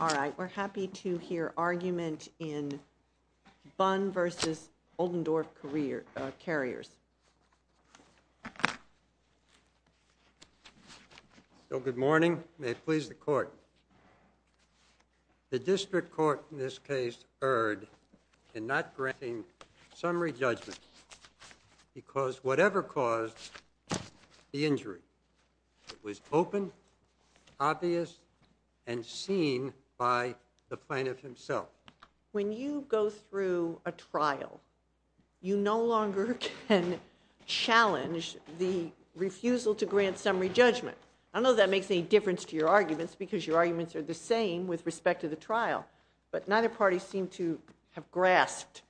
All right, we're happy to hear argument in Bunn v. Oldendorff Carriers. Good morning. May it please the Court. The District Court in this case erred in not granting summary judgment because whatever caused the injury was open, obvious, and seen by the plaintiff himself. When you go through a trial, you no longer can challenge the refusal to grant summary judgment. I don't know if that makes any difference to your arguments because your arguments are the same with respect to the trial, but neither party seemed to have grasped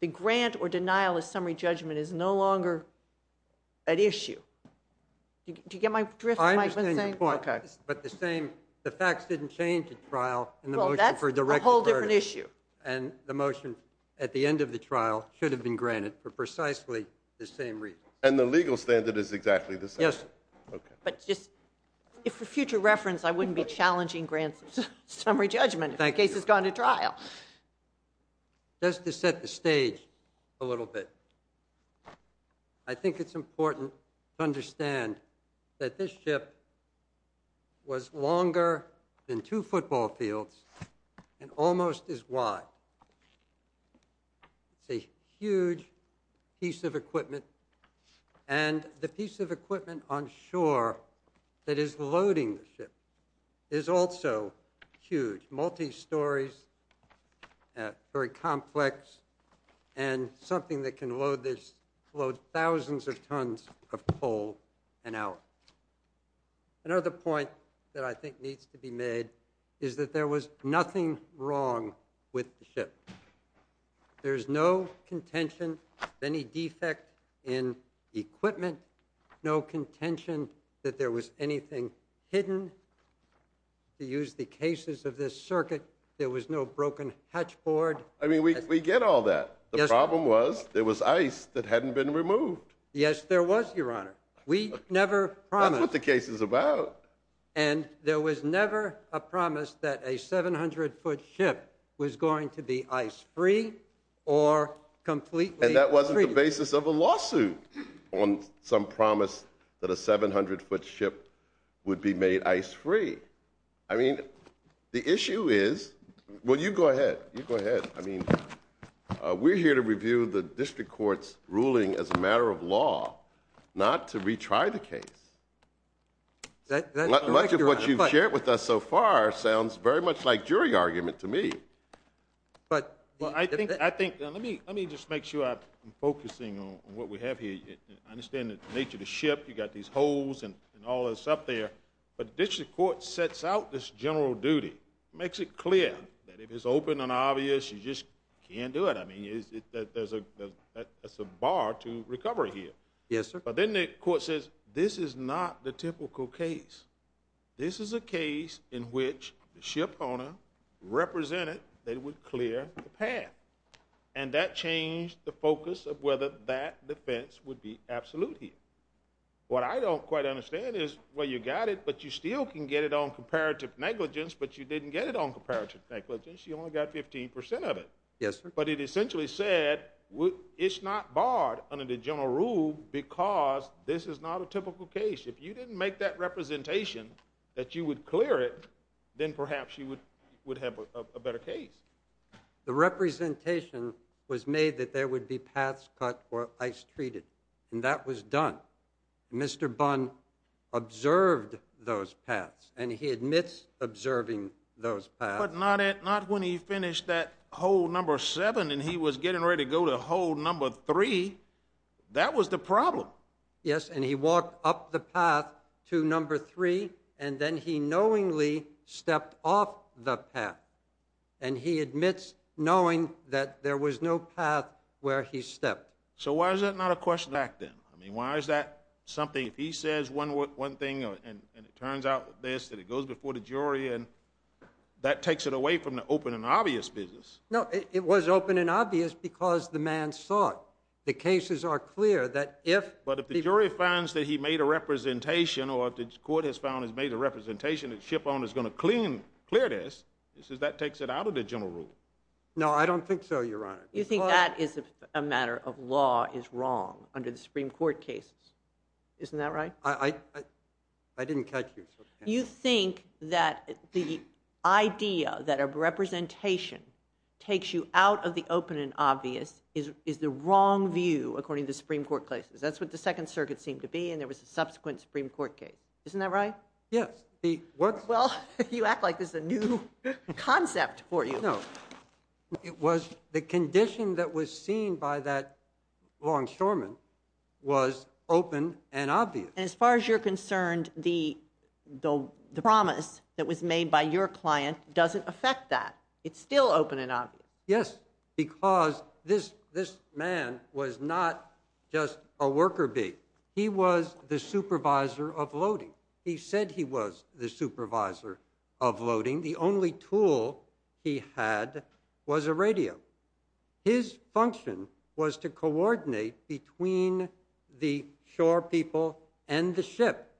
the grant or denial of summary judgment is no longer an issue. Do you get my drift? I understand your point, but the facts didn't change at trial in the motion for a directed verdict. Well, that's a whole different issue. And the motion at the end of the trial should have been granted for precisely the same reason. And the legal standard is exactly the same. Yes. But just for future reference, I wouldn't be challenging grants of summary judgment if the case has gone to trial. Just to set the stage a little bit, I think it's important to understand that this ship was longer than two football fields and almost as wide. It's a huge piece of equipment, and the piece of equipment on shore that is loading the ship is also huge, multi-stories, very complex, and something that can load thousands of tons of coal an hour. Another point that I think needs to be made is that there was nothing wrong with the ship. There's no contention of any defect in equipment, no contention that there was anything hidden. To use the cases of this circuit, there was no broken hatch board. I mean, we get all that. The problem was there was ice that hadn't been removed. Yes, there was, Your Honor. We never promised. That's what the case is about. And there was never a promise that a 700-foot ship was going to be ice-free or completely free. And that wasn't the basis of a lawsuit on some promise that a 700-foot ship would be made ice-free. I mean, the issue is... Well, you go ahead. You go ahead. I mean, we're here to review the district court's ruling as a matter of law, not to retry the case. Much of what you've shared with us so far sounds very much like jury argument to me. Well, I think... Let me just make sure I'm focusing on what we have here. I understand the nature of the ship. You've got these holes and all this up there. But the district court sets out this general duty, makes it clear that if it's open and obvious, you just can't do it. I mean, there's a bar to recovery here. Yes, sir. But then the court says, this is not the typical case. This is a case in which the ship owner represented that it would clear the path. And that changed the focus of whether that defense would be absolute here. What I don't quite understand is, well, you got it, but you still can get it on comparative negligence, but you didn't get it on comparative negligence. You only got 15% of it. Yes, sir. But it essentially said, it's not barred under the general rule because this is not a typical case. If you didn't make that representation that you would clear it, then perhaps you would have a better case. The representation was made that there would be paths cut or ice treated, and that was done. Mr. Bunn observed those paths, and he admits observing those paths. But not when he finished that hole number 7 and he was getting ready to go to hole number 3. That was the problem. Yes, and he walked up the path to number 3, and then he knowingly stepped off the path, and he admits knowing that there was no path where he stepped. So why is that not a question back then? I mean, why is that something, if he says one thing and it turns out this, and it goes before the jury, and that takes it away from the open and obvious business. No, it was open and obvious because the man saw it. The cases are clear that if... But if the jury finds that he made a representation or if the court has found he's made a representation that the shipowner is going to clear this, that takes it out of the general rule. No, I don't think so, Your Honor. You think that is a matter of law is wrong under the Supreme Court cases. Isn't that right? I didn't catch you. You think that the idea that a representation takes you out of the open and obvious is the wrong view according to the Supreme Court cases. That's what the Second Circuit seemed to be, and there was a subsequent Supreme Court case. Isn't that right? Yes. Well, you act like this is a new concept for you. No. It was the condition that was seen by that longshoreman was open and obvious. And as far as you're concerned, the promise that was made by your client doesn't affect that. It's still open and obvious. Yes, because this man was not just a worker bee. He was the supervisor of loading. He said he was the supervisor of loading. The only tool he had was a radio. His function was to coordinate between the shore people and the ship.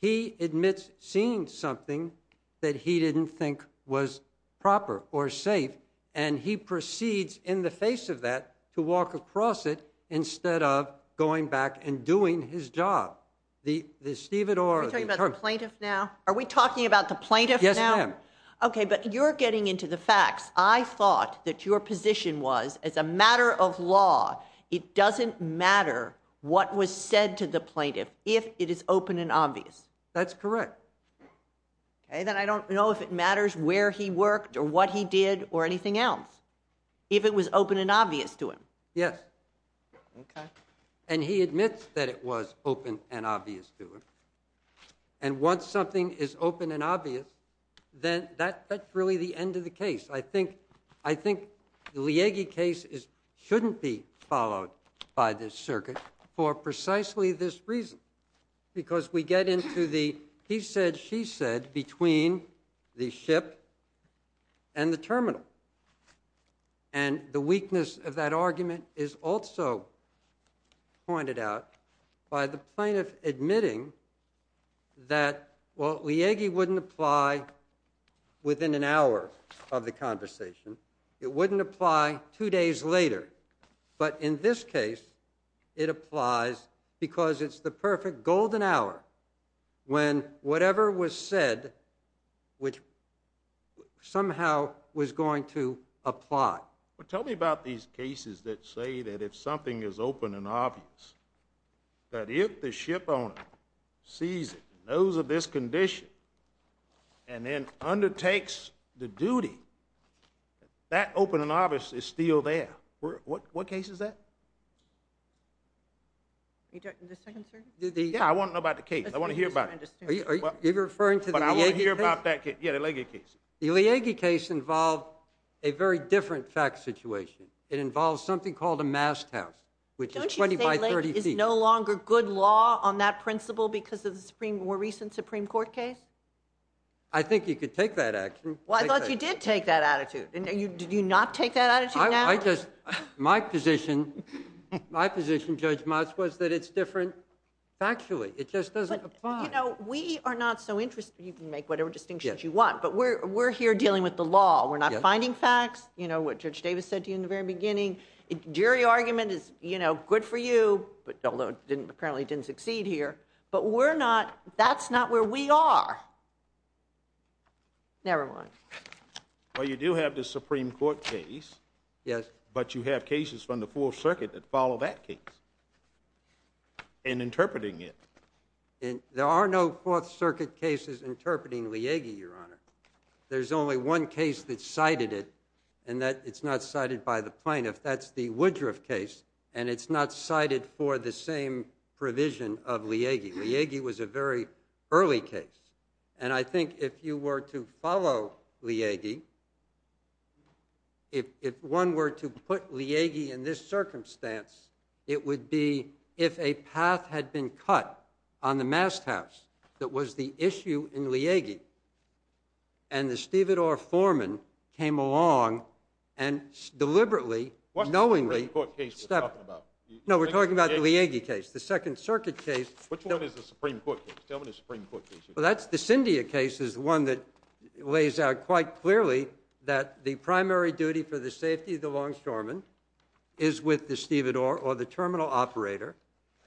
He admits seeing something that he didn't think was proper or safe, and he proceeds in the face of that to walk across it instead of going back and doing his job. The stevedore... Are we talking about the plaintiff now? Are we talking about the plaintiff now? Yes, ma'am. Okay, but you're getting into the facts. I thought that your position was, as a matter of law, it doesn't matter what was said to the plaintiff if it is open and obvious. That's correct. Okay, then I don't know if it matters where he worked or what he did or anything else, if it was open and obvious to him. Yes. Okay. And he admits that it was open and obvious to him. And once something is open and obvious, then that's really the end of the case. I think the Liege case shouldn't be followed by this circuit for precisely this reason, because we get into the he said, she said between the ship and the terminal. And the weakness of that argument is also pointed out by the plaintiff admitting that, well, it wouldn't apply two days later. But in this case, it applies because it's the perfect golden hour when whatever was said somehow was going to apply. Tell me about these cases that say that if something is open and obvious, that if the ship owner sees it, knows of this condition, and then undertakes the duty, that open and obvious is still there. What case is that? The second circuit? Yeah, I want to know about the case. I want to hear about it. Are you referring to the Liege case? Yeah, the Liege case. The Liege case involved a very different fact situation. It involves something called a masthouse, which is 20 by 30 feet. Don't you say Liege is no longer good law on that principle because of the more recent Supreme Court case? I think you could take that action. Well, I thought you did take that attitude. Did you not take that attitude now? My position, Judge Motz, was that it's different factually. It just doesn't apply. We are not so interested. You can make whatever distinctions you want. But we're here dealing with the law. We're not finding facts, what Judge Davis said to you in the very beginning. The jury argument is good for you, although it apparently didn't succeed here. But that's not where we are. Never mind. Well, you do have the Supreme Court case. Yes. But you have cases from the Fourth Circuit that follow that case and interpreting it. There are no Fourth Circuit cases interpreting Liege, Your Honor. There's only one case that cited it, and it's not cited by the plaintiff. That's the Woodruff case, and it's not cited for the same provision of Liege. Liege was a very early case, and I think if you were to follow Liege, if one were to put Liege in this circumstance, it would be if a path had been cut on the masthouse that was the issue in Liege, and the stevedore foreman came along and deliberately, knowingly... What Supreme Court case are you talking about? No, we're talking about the Liege case, the Second Circuit case. Which one is the Supreme Court case? Tell me the Supreme Court case. Well, that's the Cyndia case is the one that lays out quite clearly that the primary duty for the safety of the longshoreman is with the stevedore or the terminal operator,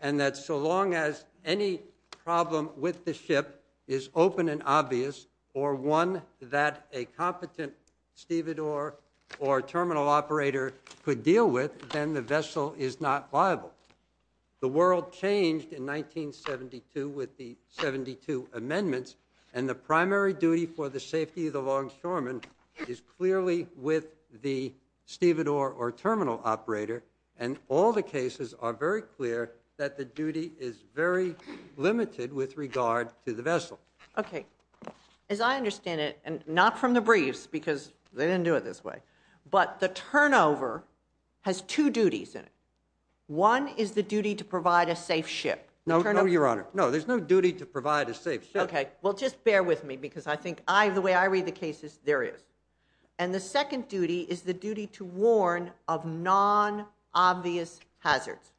and that so long as any problem with the ship is open and obvious or one that a competent stevedore or terminal operator could deal with, then the vessel is not liable. The world changed in 1972 with the 72 amendments, and the primary duty for the safety of the longshoreman is clearly with the stevedore or terminal operator, and all the cases are very clear that the duty is very limited with regard to the vessel. Okay. As I understand it, and not from the briefs, because they didn't do it this way, but the turnover has two duties in it. One is the duty to provide a safe ship. No, Your Honor. No, there's no duty to provide a safe ship. Okay. Well, just bear with me, because I think the way I read the cases, there is. And the second duty is the duty to warn of non-obvious hazards.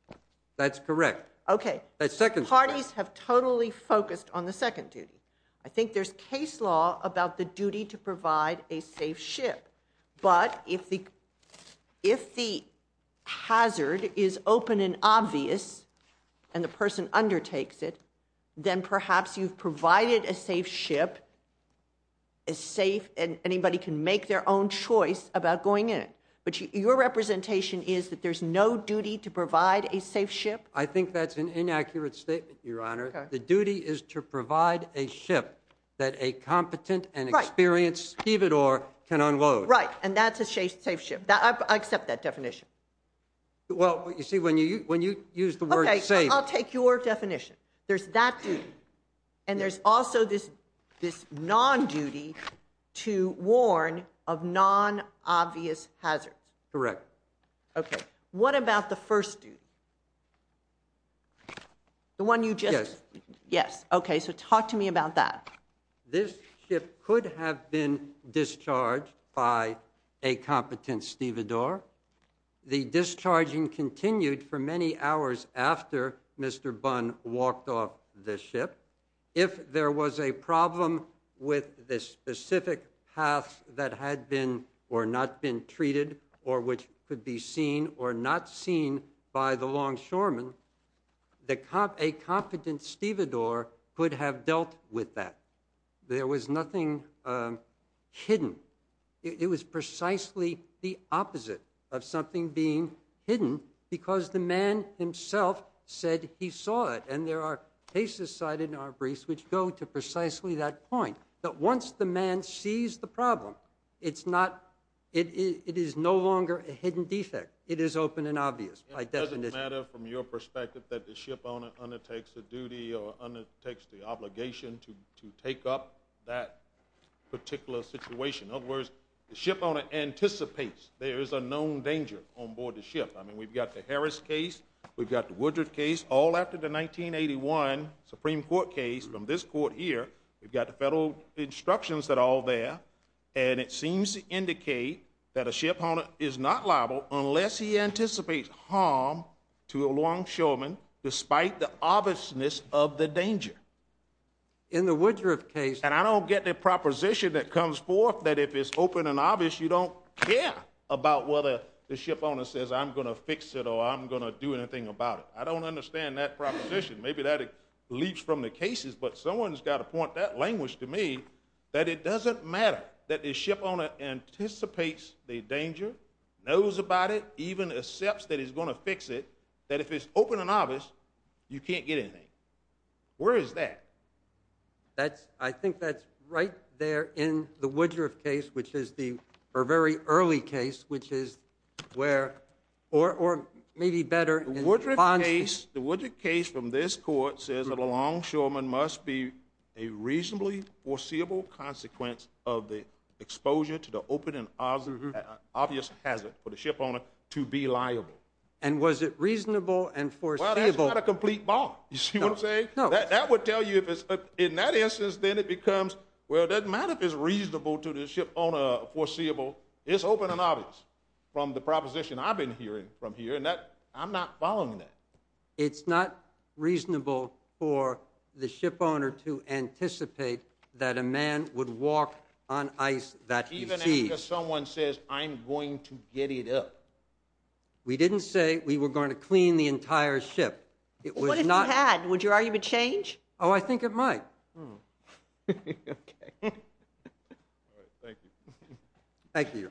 That's correct. Okay. The parties have totally focused on the second duty. I think there's case law about the duty to provide a safe ship. But if the hazard is open and obvious and the person undertakes it, then perhaps you've provided a safe ship, and anybody can make their own choice about going in it. But your representation is that there's no duty to provide a safe ship? I think that's an inaccurate statement, Your Honor. The duty is to provide a ship that a competent and experienced stevedore can unload. Right. And that's a safe ship. I accept that definition. Well, you see, when you use the word safe. Okay. I'll take your definition. There's that duty. And there's also this non-duty to warn of non-obvious hazards. Correct. Okay. What about the first duty? Yes. Yes. Okay. So talk to me about that. This ship could have been discharged by a competent stevedore. The discharging continued for many hours after Mr. Bunn walked off the ship. If there was a problem with the specific path that had been or not been treated or which could be seen or not seen by the longshoremen, a competent stevedore could have dealt with that. There was nothing hidden. It was precisely the opposite of something being hidden because the man himself said he saw it. And there are cases cited in our briefs which go to precisely that point, that once the man sees the problem, it is no longer a hidden defect. It is open and obvious by definition. It doesn't matter from your perspective that the shipowner undertakes the duty or undertakes the obligation to take up that particular situation. In other words, the shipowner anticipates there is a known danger onboard the ship. I mean, we've got the Harris case. We've got the Woodruff case. All after the 1981 Supreme Court case from this court here, we've got the federal instructions that are all there, and it seems to indicate that a shipowner is not liable unless he anticipates harm to a longshoreman despite the obviousness of the danger. In the Woodruff case. And I don't get the proposition that comes forth that if it's open and obvious, you don't care about whether the shipowner says, I'm going to fix it or I'm going to do anything about it. I don't understand that proposition. Maybe that leaps from the cases, but someone has got to point that language to me that it doesn't matter that the shipowner anticipates the danger, knows about it, even accepts that he's going to fix it, that if it's open and obvious, you can't get anything. Where is that? I think that's right there in the Woodruff case, which is the very early case, which is where or maybe better. The Woodruff case from this court says that a longshoreman must be a reasonably foreseeable consequence of the exposure to the open and obvious hazard for the shipowner to be liable. And was it reasonable and foreseeable? Well, that's not a complete bomb, you see what I'm saying? No. That would tell you if it's in that instance, then it becomes, well, it doesn't matter if it's reasonable to the shipowner, foreseeable. It's open and obvious from the proposition I've been hearing from here, and I'm not following that. It's not reasonable for the shipowner to anticipate that a man would walk on ice that he sees. Even after someone says, I'm going to get it up. We didn't say we were going to clean the entire ship. What if you had? Would your argument change? Oh, I think it might. Okay. All right, thank you. Thank you. Thank you.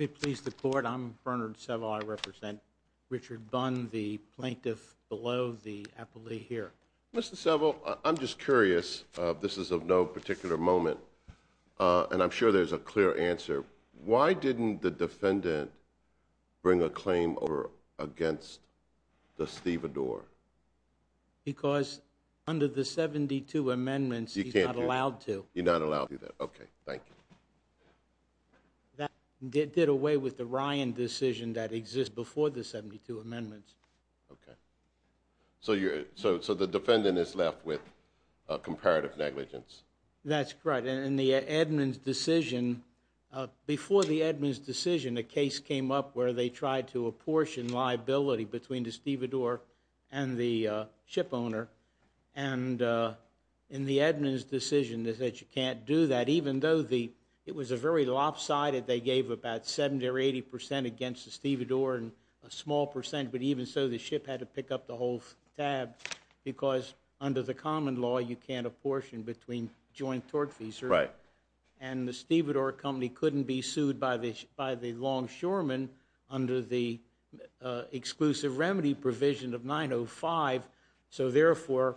If it pleases the Court, I'm Bernard Seville. I represent Richard Bunn, the plaintiff below the appellee here. Mr. Seville, I'm just curious. This is of no particular moment, and I'm sure there's a clear answer. Why didn't the defendant bring a claim over against the stevedore? Because under the 72 amendments, he's not allowed to. He's not allowed to do that. Okay, thank you. That did away with the Ryan decision that exists before the 72 amendments. Okay. So the defendant is left with comparative negligence. That's right. In the Edmunds decision, before the Edmunds decision, a case came up where they tried to apportion liability between the stevedore and the ship owner. And in the Edmunds decision, they said you can't do that, even though it was a very lopsided. They gave about 70 or 80 percent against the stevedore and a small percent, but even so, the ship had to pick up the whole tab. Because under the common law, you can't apportion between joint tortfeasors. Right. And the stevedore company couldn't be sued by the longshoreman under the exclusive remedy provision of 905. So, therefore,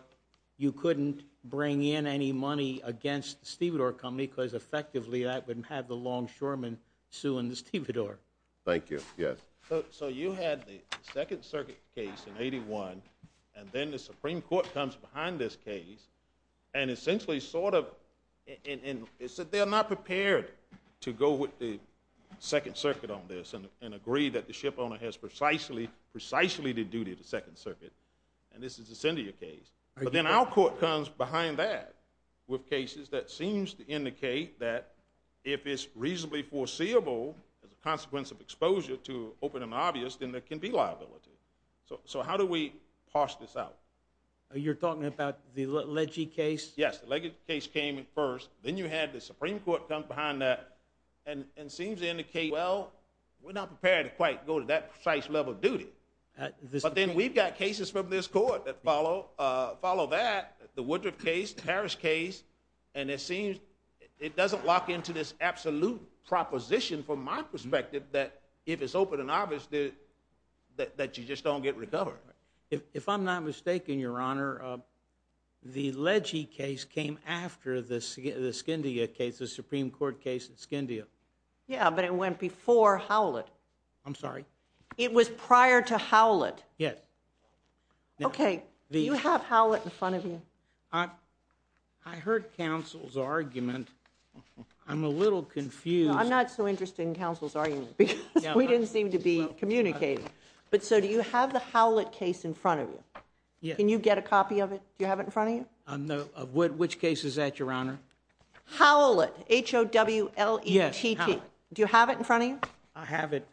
you couldn't bring in any money against the stevedore company because, effectively, that would have the longshoreman suing the stevedore. Thank you. Yes. So you had the Second Circuit case in 81, and then the Supreme Court comes behind this case and essentially sort of they're not prepared to go with the Second Circuit on this and agree that the ship owner has precisely the duty of the Second Circuit, and this is the Scindia case. But then our court comes behind that with cases that seems to indicate that if it's reasonably foreseeable as a consequence of exposure to open and obvious, then there can be liability. So how do we parse this out? You're talking about the Legge case? Yes. The Legge case came first. Then you had the Supreme Court come behind that and seems to indicate, well, we're not prepared to quite go to that precise level of duty. But then we've got cases from this court that follow that, the Woodruff case, the Parrish case, and it seems it doesn't lock into this absolute proposition from my observation that you just don't get recovery. If I'm not mistaken, Your Honor, the Legge case came after the Scindia case, the Supreme Court case at Scindia. Yeah, but it went before Howlett. I'm sorry? It was prior to Howlett. Yes. Okay. Do you have Howlett in front of you? I heard counsel's argument. I'm a little confused. I'm not so interested in counsel's argument because we didn't seem to be communicating. But so do you have the Howlett case in front of you? Yes. Can you get a copy of it? Do you have it in front of you? Which case is that, Your Honor? Howlett, H-O-W-L-E-T-T. Do you have it in front of you? I have it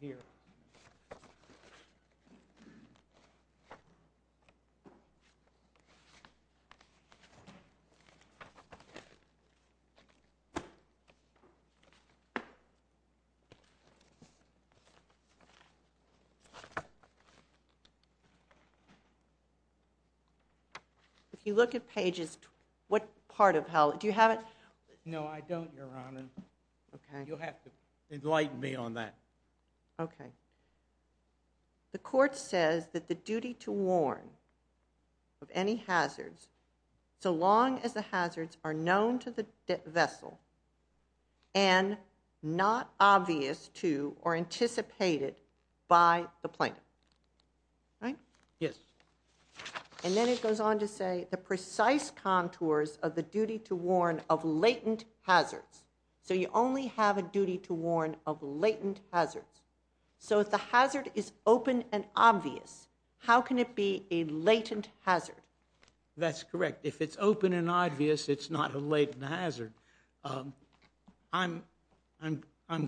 here. If you look at pages, what part of Howlett, do you have it? No, I don't, Your Honor. Okay. You'll have to enlighten me on that. Okay. The court says that the duty to warn of any hazards, so long as the hazards are known to the vessel and not obvious to or anticipated by the plaintiff. Right? Yes. And then it goes on to say the precise contours of the duty to warn of latent hazards. So you only have a duty to warn of latent hazards. So if the hazard is open and obvious, how can it be a latent hazard? That's correct. If it's open and obvious, it's not a latent hazard. I'm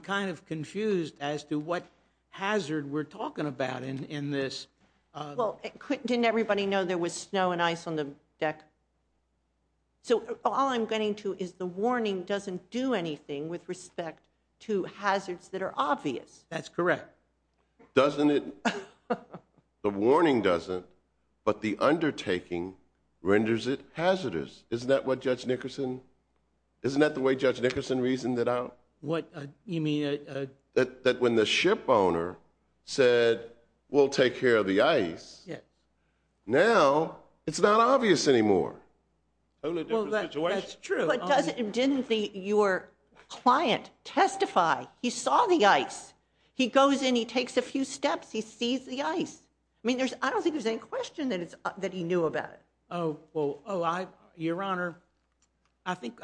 kind of confused as to what hazard we're talking about in this. Well, didn't everybody know there was snow and ice on the deck? So all I'm getting to is the warning doesn't do anything with respect to hazards that are obvious. That's correct. Doesn't it? The warning doesn't, but the undertaking renders it hazardous. Isn't that what Judge Nickerson, isn't that the way Judge Nickerson reasoned it out? What you mean? That when the ship owner said, we'll take care of the ice. Yeah. Now it's not obvious anymore. That's true. Didn't your client testify? He saw the ice. Yes. He goes in, he takes a few steps, he sees the ice. I mean, I don't think there's any question that he knew about it. Oh, well, your Honor, I think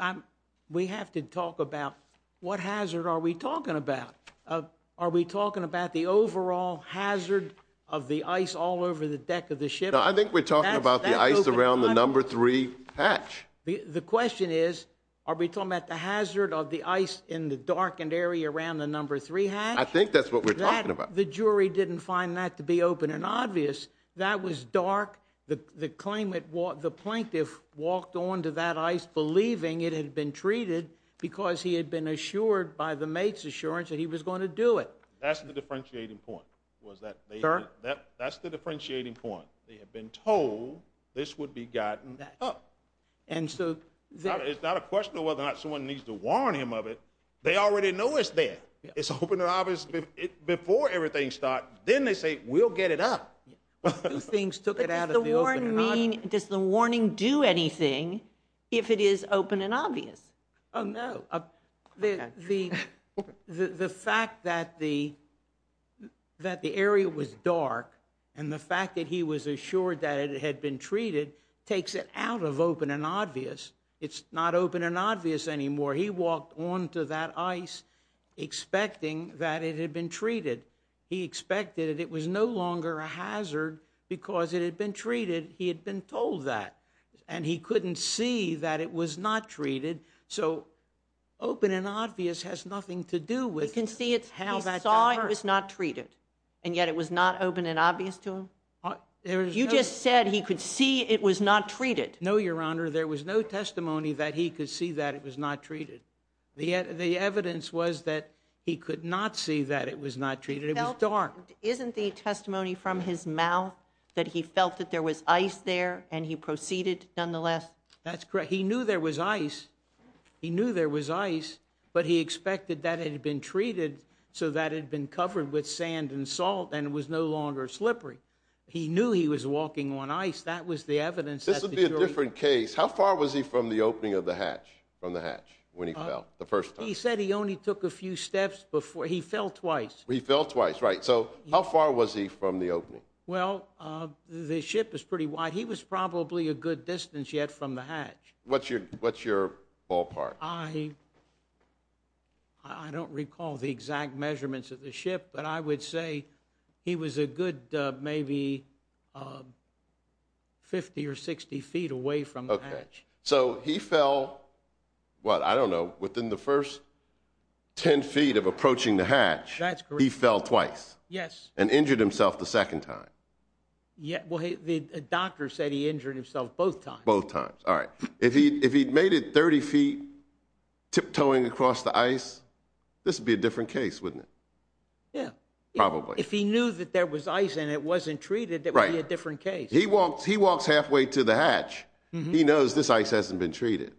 we have to talk about what hazard are we talking about? Are we talking about the overall hazard of the ice all over the deck of the ship? I think we're talking about the ice around the number three hatch. The question is, are we talking about the hazard of the ice in the darkened area around the number three hatch? I think that's what we're talking about. The jury didn't find that to be open and obvious. That was dark. The claim that the plaintiff walked onto that ice, believing it had been treated because he had been assured by the mate's assurance that he was going to do it. That's the differentiating point. That's the differentiating point. They had been told this would be gotten up. It's not a question of whether or not someone needs to warn him of it. They already know it's there. It's open and obvious before everything starts. Then they say, we'll get it up. Two things took it out of the open and obvious. Does the warning do anything if it is open and obvious? Oh, no. The fact that the area was dark, and the fact that he was assured that it had been treated, takes it out of open and obvious. It's not open and obvious anymore. He walked onto that ice expecting that it had been treated. He expected it. It was no longer a hazard because it had been treated. He had been told that. And he couldn't see that it was not treated. So open and obvious has nothing to do with how that was not treated. And yet it was not open and obvious to him. You just said he could see it was not treated. No, Your Honor. There was no testimony that he could see that it was not treated. The evidence was that he could not see that it was not treated. It was dark. Isn't the testimony from his mouth that he felt that there was ice there and he proceeded nonetheless? That's correct. He knew there was ice. He knew there was ice, but he expected that it had been treated so that it had been covered with He knew he was walking on ice. That was the evidence. This would be a different case. How far was he from the opening of the hatch, from the hatch, when he fell the first time? He said he only took a few steps before. He fell twice. He fell twice. Right. So how far was he from the opening? Well, the ship is pretty wide. He was probably a good distance yet from the hatch. What's your ballpark? I don't recall the exact measurements of the ship, but I would say he was a good maybe 50 or 60 feet away from the hatch. Okay. So he fell, what, I don't know, within the first 10 feet of approaching the hatch. That's correct. He fell twice. Yes. And injured himself the second time. Well, the doctor said he injured himself both times. Both times. All right. If he'd made it 30 feet tiptoeing across the ice, this would be a different case, wouldn't it? Yeah. Probably. If he knew that there was ice and it wasn't treated, that would be a different case. He walks halfway to the hatch. He knows this ice hasn't been treated.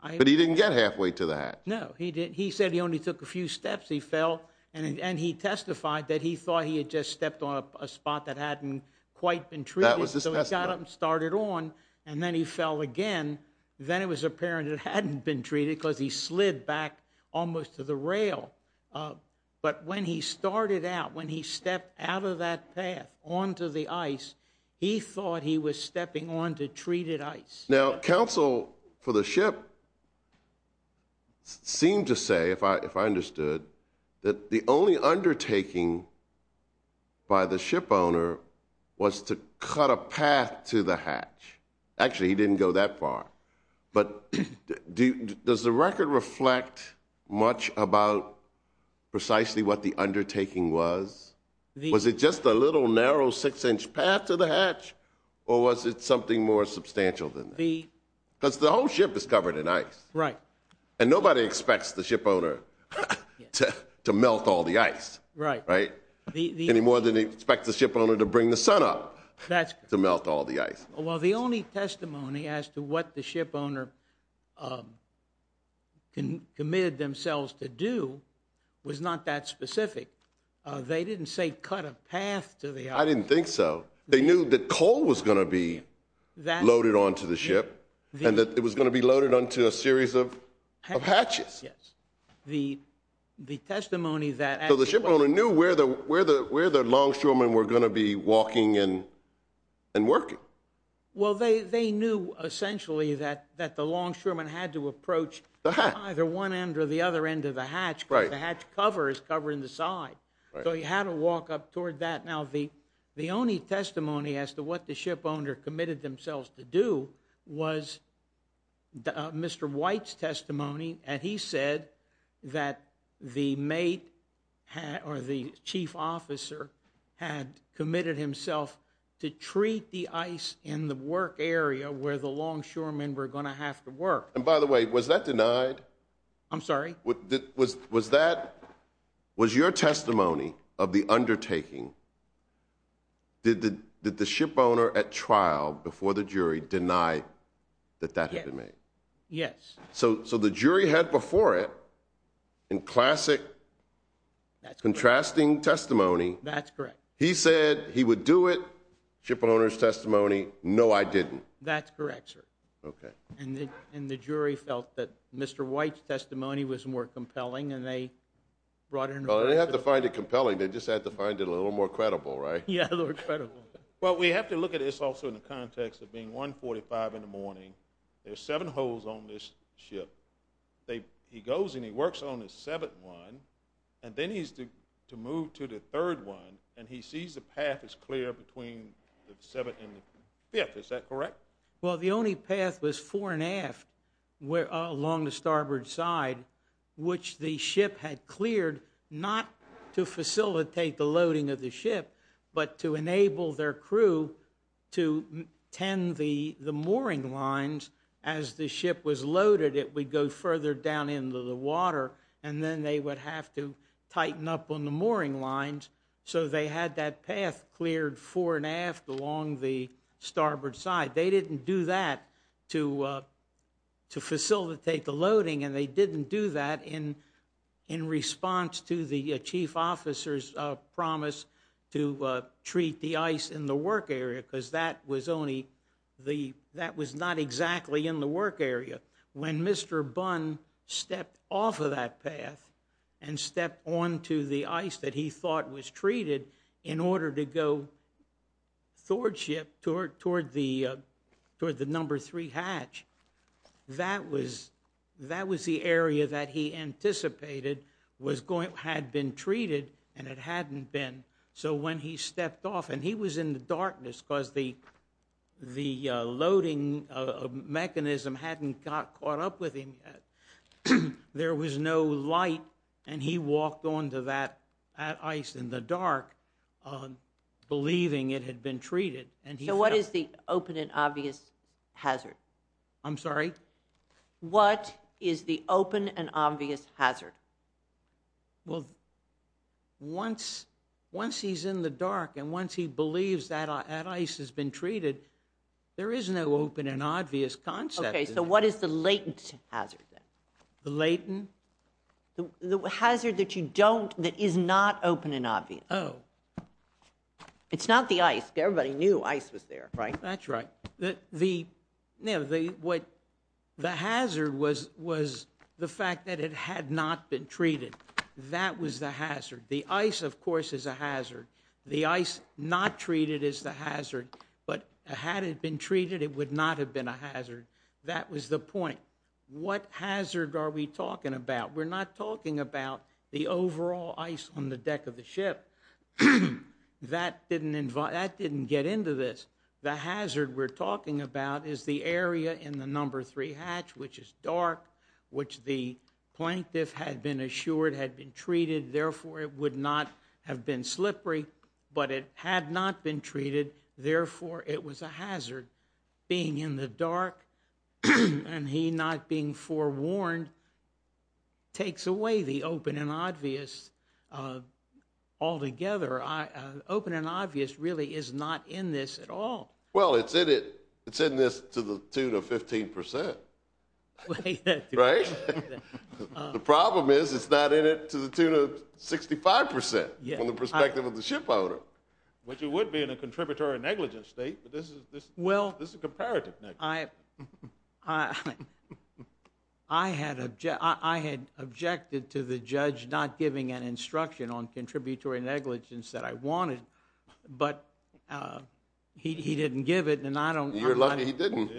But he didn't get halfway to the hatch. No, he didn't. He said he only took a few steps. He fell, and he testified that he thought he had just stepped on a spot that hadn't quite been treated. That was his testimony. So he got up and started on, and then he fell again. Then it was apparent it hadn't been treated because he slid back almost to the rail. But when he started out, when he stepped out of that path onto the ice, he thought he was stepping onto treated ice. Now, counsel for the ship seemed to say, if I understood, that the only undertaking by the ship owner was to cut a path to the hatch. Actually, he didn't go that far. But does the record reflect much about precisely what the undertaking was? Was it just a little narrow six-inch path to the hatch, or was it something more substantial than that? Because the whole ship is covered in ice. Right. And nobody expects the ship owner to melt all the ice. Right. Right? Any more than they expect the ship owner to bring the sun up to melt all the ice. Well, the only testimony as to what the ship owner committed themselves to do was not that specific. They didn't say cut a path to the ice. I didn't think so. They knew that coal was going to be loaded onto the ship and that it was going to be loaded onto a series of hatches. Yes. The testimony that actually was. They knew where the longshoremen were going to be walking and working. Well, they knew essentially that the longshoremen had to approach either one end or the other end of the hatch because the hatch cover is covering the side. So he had to walk up toward that. Now, the only testimony as to what the ship owner committed themselves to do was Mr. White's testimony, and he said that the chief officer had committed himself to treat the ice in the work area where the longshoremen were going to have to work. And by the way, was that denied? I'm sorry? Was your testimony of the undertaking, did the ship owner at trial before the jury deny that that had been made? Yes. So the jury had before it in classic contrasting testimony. That's correct. He said he would do it. Ship owner's testimony, no, I didn't. That's correct, sir. Okay. And the jury felt that Mr. White's testimony was more compelling and they brought it into court. Well, they didn't have to find it compelling. They just had to find it a little more credible, right? Yeah, a little more credible. Well, we have to look at this also in the context of being 145 in the morning. There's seven holes on this ship. He goes and he works on the seventh one, and then he's to move to the third one, and he sees the path is clear between the seventh and the fifth. Is that correct? Well, the only path was fore and aft along the starboard side, but to enable their crew to tend the mooring lines as the ship was loaded, it would go further down into the water, and then they would have to tighten up on the mooring lines. So they had that path cleared fore and aft along the starboard side. They didn't do that to facilitate the loading, and they didn't do that in response to the chief officer's promise to treat the ice in the work area, because that was not exactly in the work area. When Mr. Bunn stepped off of that path and stepped onto the ice that he thought was treated in order to go toward the number three hatch, that was the area that he anticipated had been treated, and it hadn't been. So when he stepped off, and he was in the darkness because the loading mechanism hadn't caught up with him yet. There was no light, and he walked onto that ice in the dark, believing it had been treated. So what is the open and obvious hazard? I'm sorry? What is the open and obvious hazard? Well, once he's in the dark, and once he believes that ice has been treated, there is no open and obvious concept. Okay, so what is the latent hazard then? The latent? The hazard that you don't, that is not open and obvious. Oh. It's not the ice. Everybody knew ice was there, right? That's right. The hazard was the fact that it had not been treated. That was the hazard. The ice, of course, is a hazard. The ice not treated is the hazard, but had it been treated, it would not have been a hazard. That was the point. What hazard are we talking about? We're not talking about the overall ice on the deck of the ship. That didn't get into this. The hazard we're talking about is the area in the number three hatch, which is dark, which the plaintiff had been assured had been treated, therefore it would not have been slippery, but it had not been treated, therefore it was a hazard. Being in the dark and he not being forewarned takes away the open and obvious altogether. Open and obvious really is not in this at all. Well, it's in this to the tune of 15%, right? The problem is it's not in it to the tune of 65% from the perspective of the ship owner. Which it would be in a contributory negligence state, but this is comparative negligence. I had objected to the judge not giving an instruction on contributory negligence that I wanted, but he didn't give it. You're lucky he didn't.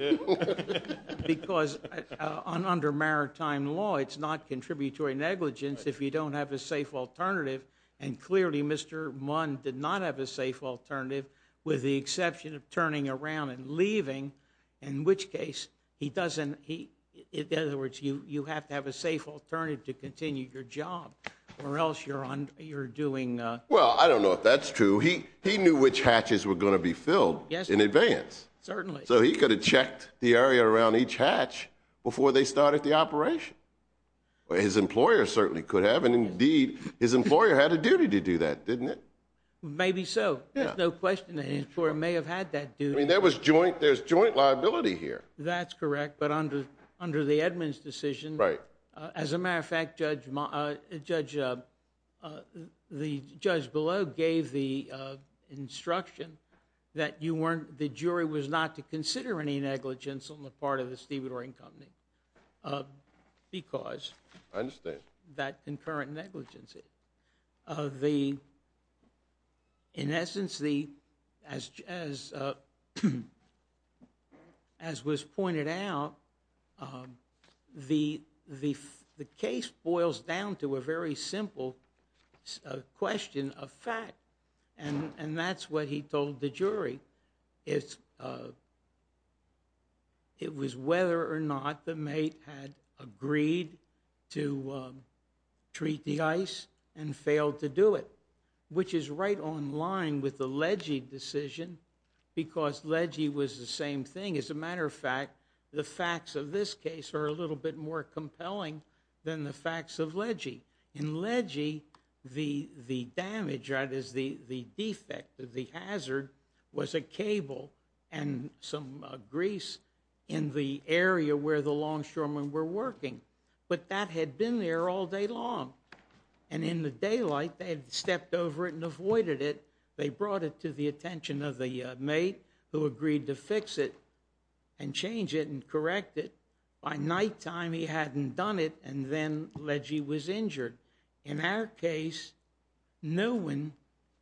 Because under maritime law it's not contributory negligence if you don't have a safe alternative, and clearly Mr. Munn did not have a safe alternative with the exception of turning around and leaving, in which case you have to have a safe alternative to continue your job or else you're doing... Well, I don't know if that's true. He knew which hatches were going to be filled in advance. Certainly. So he could have checked the area around each hatch before they started the operation. His employer certainly could have, and indeed his employer had a duty to do that, didn't it? Maybe so. There's no question that his employer may have had that duty. There's joint liability here. That's correct, but under the Edmunds decision, as a matter of fact, the judge below gave the instruction that the jury was not to consider any negligence on the part of the stevedoring company because... I understand. ...of that concurrent negligence. In essence, as was pointed out, the case boils down to a very simple question of fact, and that's what he told the jury. It was whether or not the mate had agreed to treat the ice and failed to do it, which is right on line with the Legge decision because Legge was the same thing. As a matter of fact, the facts of this case are a little bit more compelling than the facts of Legge. In Legge, the damage, that is, the defect, the hazard, was a cable and some grease in the area where the longshoremen were working, but that had been there all day long, and in the daylight they had stepped over it and avoided it. They brought it to the attention of the mate who agreed to fix it and change it and correct it. By nighttime, he hadn't done it, and then Legge was injured. In our case, no one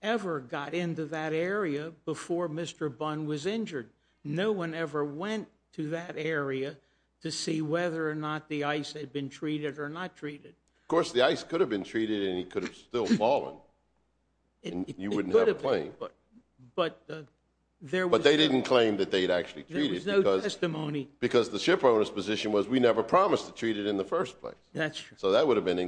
ever got into that area before Mr. Bunn was injured. No one ever went to that area to see whether or not the ice had been treated or not treated. Of course, the ice could have been treated and he could have still fallen, and you wouldn't have a plane. But they didn't claim that they had actually treated it because the shipowner's position was we never promised to treat it in the first place. So that would have been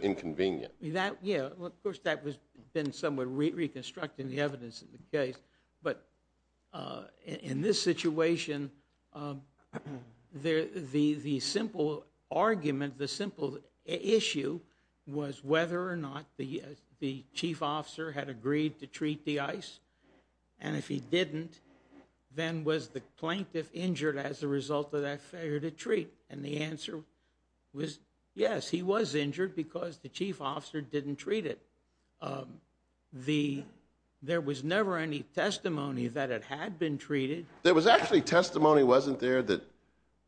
inconvenient. Of course, that has been somewhat reconstructed in the evidence of the case, but in this situation, the simple argument, the simple issue was whether or not the chief officer had agreed to treat the ice, and if he didn't, then was the plaintiff injured as a result of that failure to treat? And the answer was yes, he was injured because the chief officer didn't treat it. There was never any testimony that it had been treated. There was actually testimony, wasn't there, that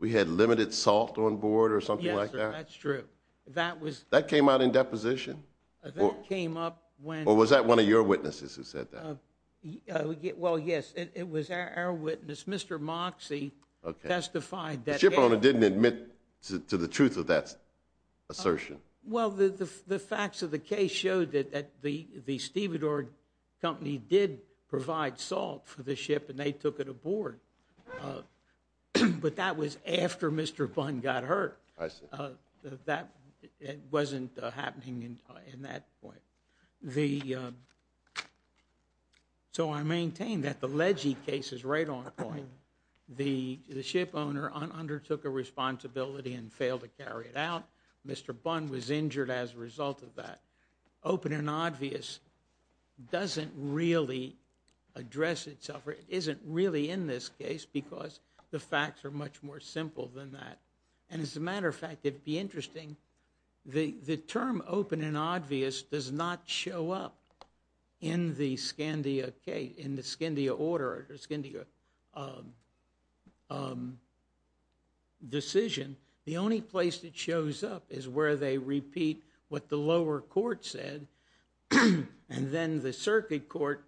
we had limited salt on board or something like that? Yes, sir, that's true. That was... That came out in deposition? That came up when... Or was that one of your witnesses who said that? Well, yes, it was our witness. Mr. Moxie testified that... The shipowner didn't admit to the truth of that assertion. Well, the facts of the case showed that the Stevedore Company did provide salt for the ship and they took it aboard, but that was after Mr. Bunn got hurt. I see. That wasn't happening in that point. The... So I maintain that the Legge case is right on point. The shipowner undertook a responsibility and failed to carry it out. Mr. Bunn was injured as a result of that. Open and obvious doesn't really address itself, or isn't really in this case because the facts are much more simple than that. And as a matter of fact, it'd be interesting, the term open and obvious does not show up in the Scandia case, in the Scandia order, or Scandia decision. The only place that shows up is where they repeat what the lower court said and then the circuit court,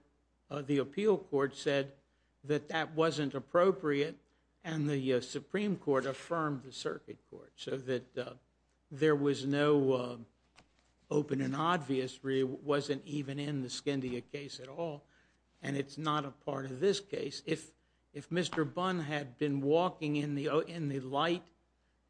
the appeal court, said that that wasn't appropriate and the Supreme Court affirmed the circuit court so that there was no open and obvious really wasn't even in the Scandia case at all and it's not a part of this case. If Mr. Bunn had been walking in the light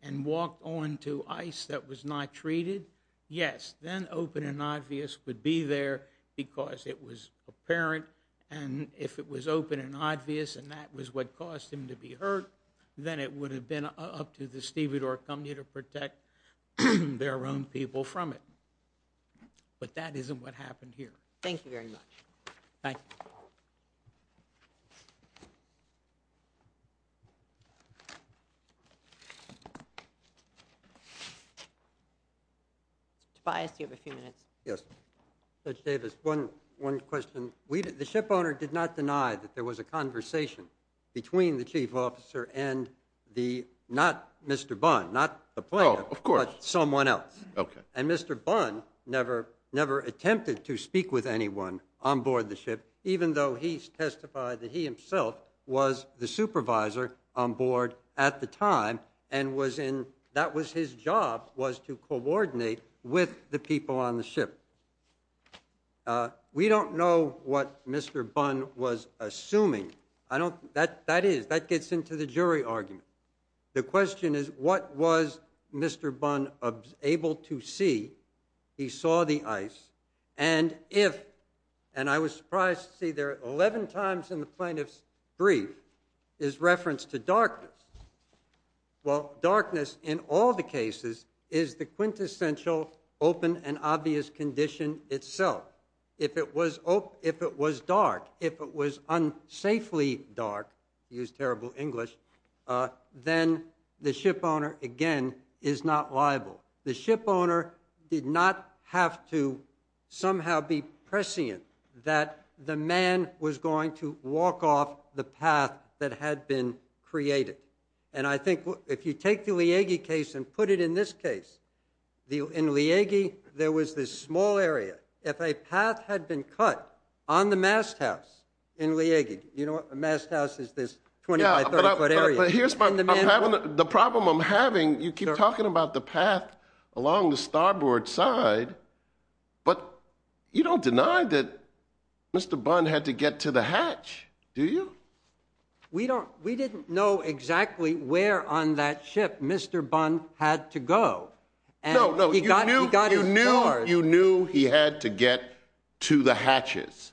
and walked onto ice that was not treated, yes, then open and obvious would be there because it was apparent and if it was open and obvious and that was what caused him to be hurt, then it would have been up to the Stevedore Company to protect their own people from it. But that isn't what happened here. Thank you very much. Thank you. Tobias, you have a few minutes. Yes. Judge Davis, one question. The ship owner did not deny that there was a conversation between the chief officer and the, not Mr. Bunn, not the planner, but someone else. Oh, of course. Okay. And Mr. Bunn never attempted to speak with anyone on board the ship even though he testified that he himself was the supervisor on board at the time and that was his job was to coordinate with the people on the ship. We don't know what Mr. Bunn was assuming. I don't, that is, that gets into the jury argument. The question is what was Mr. Bunn able to see? He saw the ice and if, and I was surprised to see there are 11 times in the plaintiff's brief is reference to darkness. Well, darkness in all the cases is the quintessential open and obvious condition itself. If it was, if it was dark, if it was unsafely dark, use terrible English, then the ship owner, again, is not liable. The ship owner did not have to somehow be prescient that the man was going to walk off the path that had been created. And I think if you take the Leahy case and put it in this case, in Leahy, there was this small area. If a path had been cut on the masthouse in Leahy, you know, a masthouse is this 25, 30-foot area. But here's my, I'm having, the problem I'm having, you keep talking about the path along the starboard side, but you don't deny that Mr. Bunn had to get to the hatch, do you? We don't, we didn't know exactly where on that ship Mr. Bunn had to go. No, no, you knew he had to get to the hatches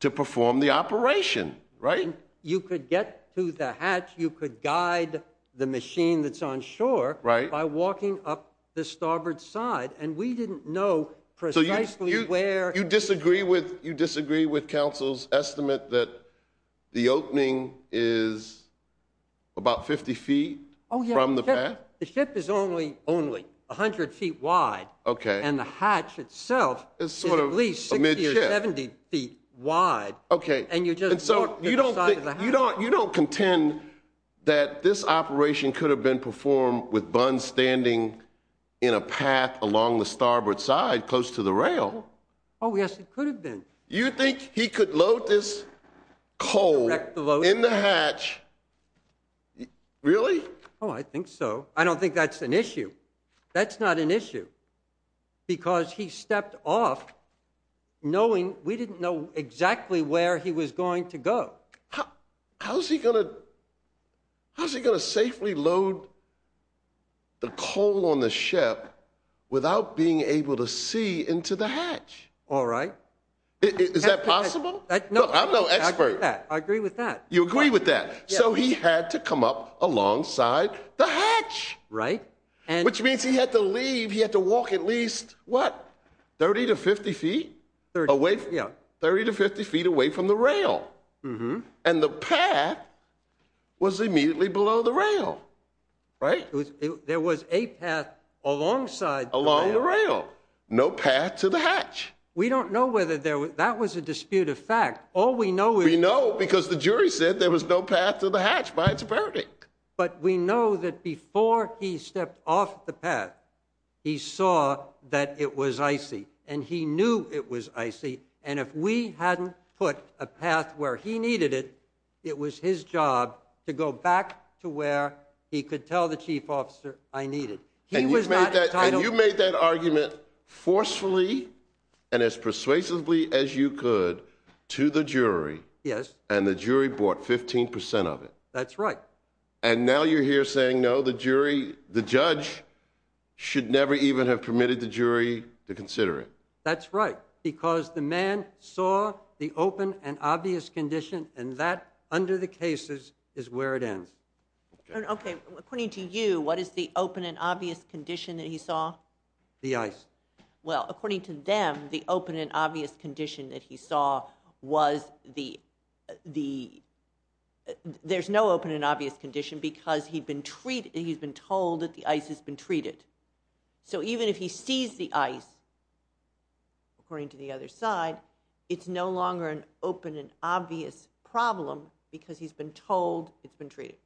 to perform the operation, right? You could get to the hatch, you could guide the machine that's on shore by walking up the starboard side, and we didn't know precisely where. So you disagree with, you disagree with that the opening is about 50 feet from the path? The ship is only 100 feet wide, and the hatch itself is at least 60 or 70 feet wide, and you just walk to the side of the hatch. You don't contend that this operation could have been performed with Bunn standing in a path along the starboard side close to the rail? Oh yes, it could have been. You think he could load this coal in the hatch? Really? Oh, I think so. I don't think that's an issue. That's not an issue, because he stepped off knowing we didn't know exactly where he was going to go. How's he going to, how's he going to safely load the coal on the ship without being able to see into the hatch? All right. Is that possible? Look, I'm no expert. I agree with that. You agree with that. So he had to come up alongside the hatch. Right. Which means he had to leave, he had to walk at least, what, 30 to 50 feet? 30. 30 to 50 feet away from the rail. And the path was immediately below the rail, right? There was a path alongside the rail. Along the rail. No path to the hatch. We don't know whether there was, that was a disputed fact. All we know is. We know, because the jury said there was no path to the hatch by its verdict. But we know that before he stepped off the path, he saw that it was icy, and he knew it was icy. And if we hadn't put a path where he needed it, it was his job to go back to where he could tell the chief officer, I need it. And you made that argument forcefully, and as persuasively as you could, to the jury. Yes. And the jury bought 15% of it. That's right. And now you're here saying, no, the jury, the judge should never even have permitted the jury to consider it. That's right. Because the man saw the open and obvious condition, and that under the cases is where it ends. Okay. According to you, what is the open and obvious condition that he saw? The ice. Well, according to them, the open and obvious condition that he saw was the, there's no open and obvious condition because he'd been treated, he's been told that the ice has been treated. So even if he sees the ice, according to the other side, it's no longer an open and obvious problem because he's been told it's been treated.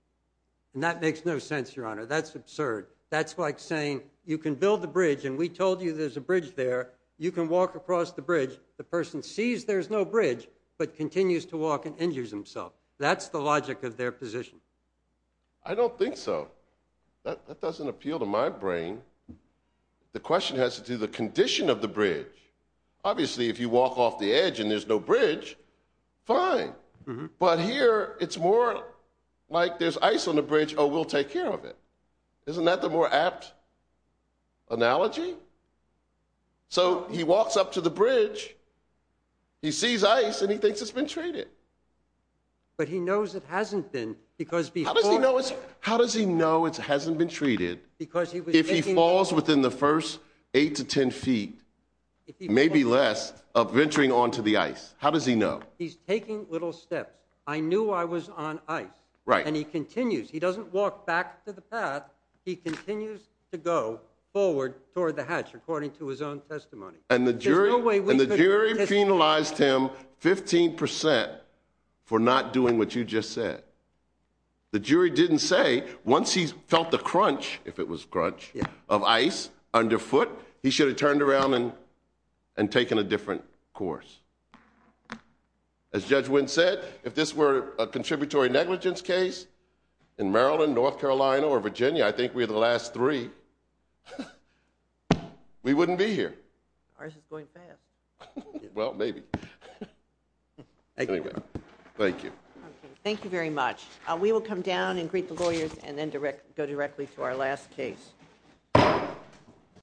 And that makes no sense, Your Honor. That's absurd. That's like saying you can build a bridge and we told you there's a bridge there. You can walk across the bridge. The person sees there's no bridge, but continues to walk and injures himself. That's the logic of their position. I don't think so. That doesn't appeal to my brain. The question has to do the condition of the bridge. Obviously, if you walk off the edge and there's no bridge, fine. But here it's more like there's ice on the bridge. Oh, we'll take care of it. Isn't that the more apt analogy? So he walks up to the bridge, he sees ice, and he thinks it's been treated. But he knows it hasn't been because before. How does he know it hasn't been treated? Because if he falls within the first eight to 10 feet, maybe less of venturing onto the ice, how does he know? He's taking little steps. I knew I was on ice. And he continues. He doesn't walk back to the path. He continues to go forward toward the hatch, according to his own testimony. And the jury penalized him 15% for not doing what you just said. The jury didn't say once he felt the crunch, if it was crunch, of ice underfoot, he should have turned around and taken a different course. As Judge Wynn said, if this were a contributory negligence case in Maryland, North Carolina, or Virginia, I think we're the last three, we wouldn't be here. Ours is going fast. Well, maybe. Anyway, thank you. Thank you very much. We will come down and greet the lawyers and then go directly to our last case.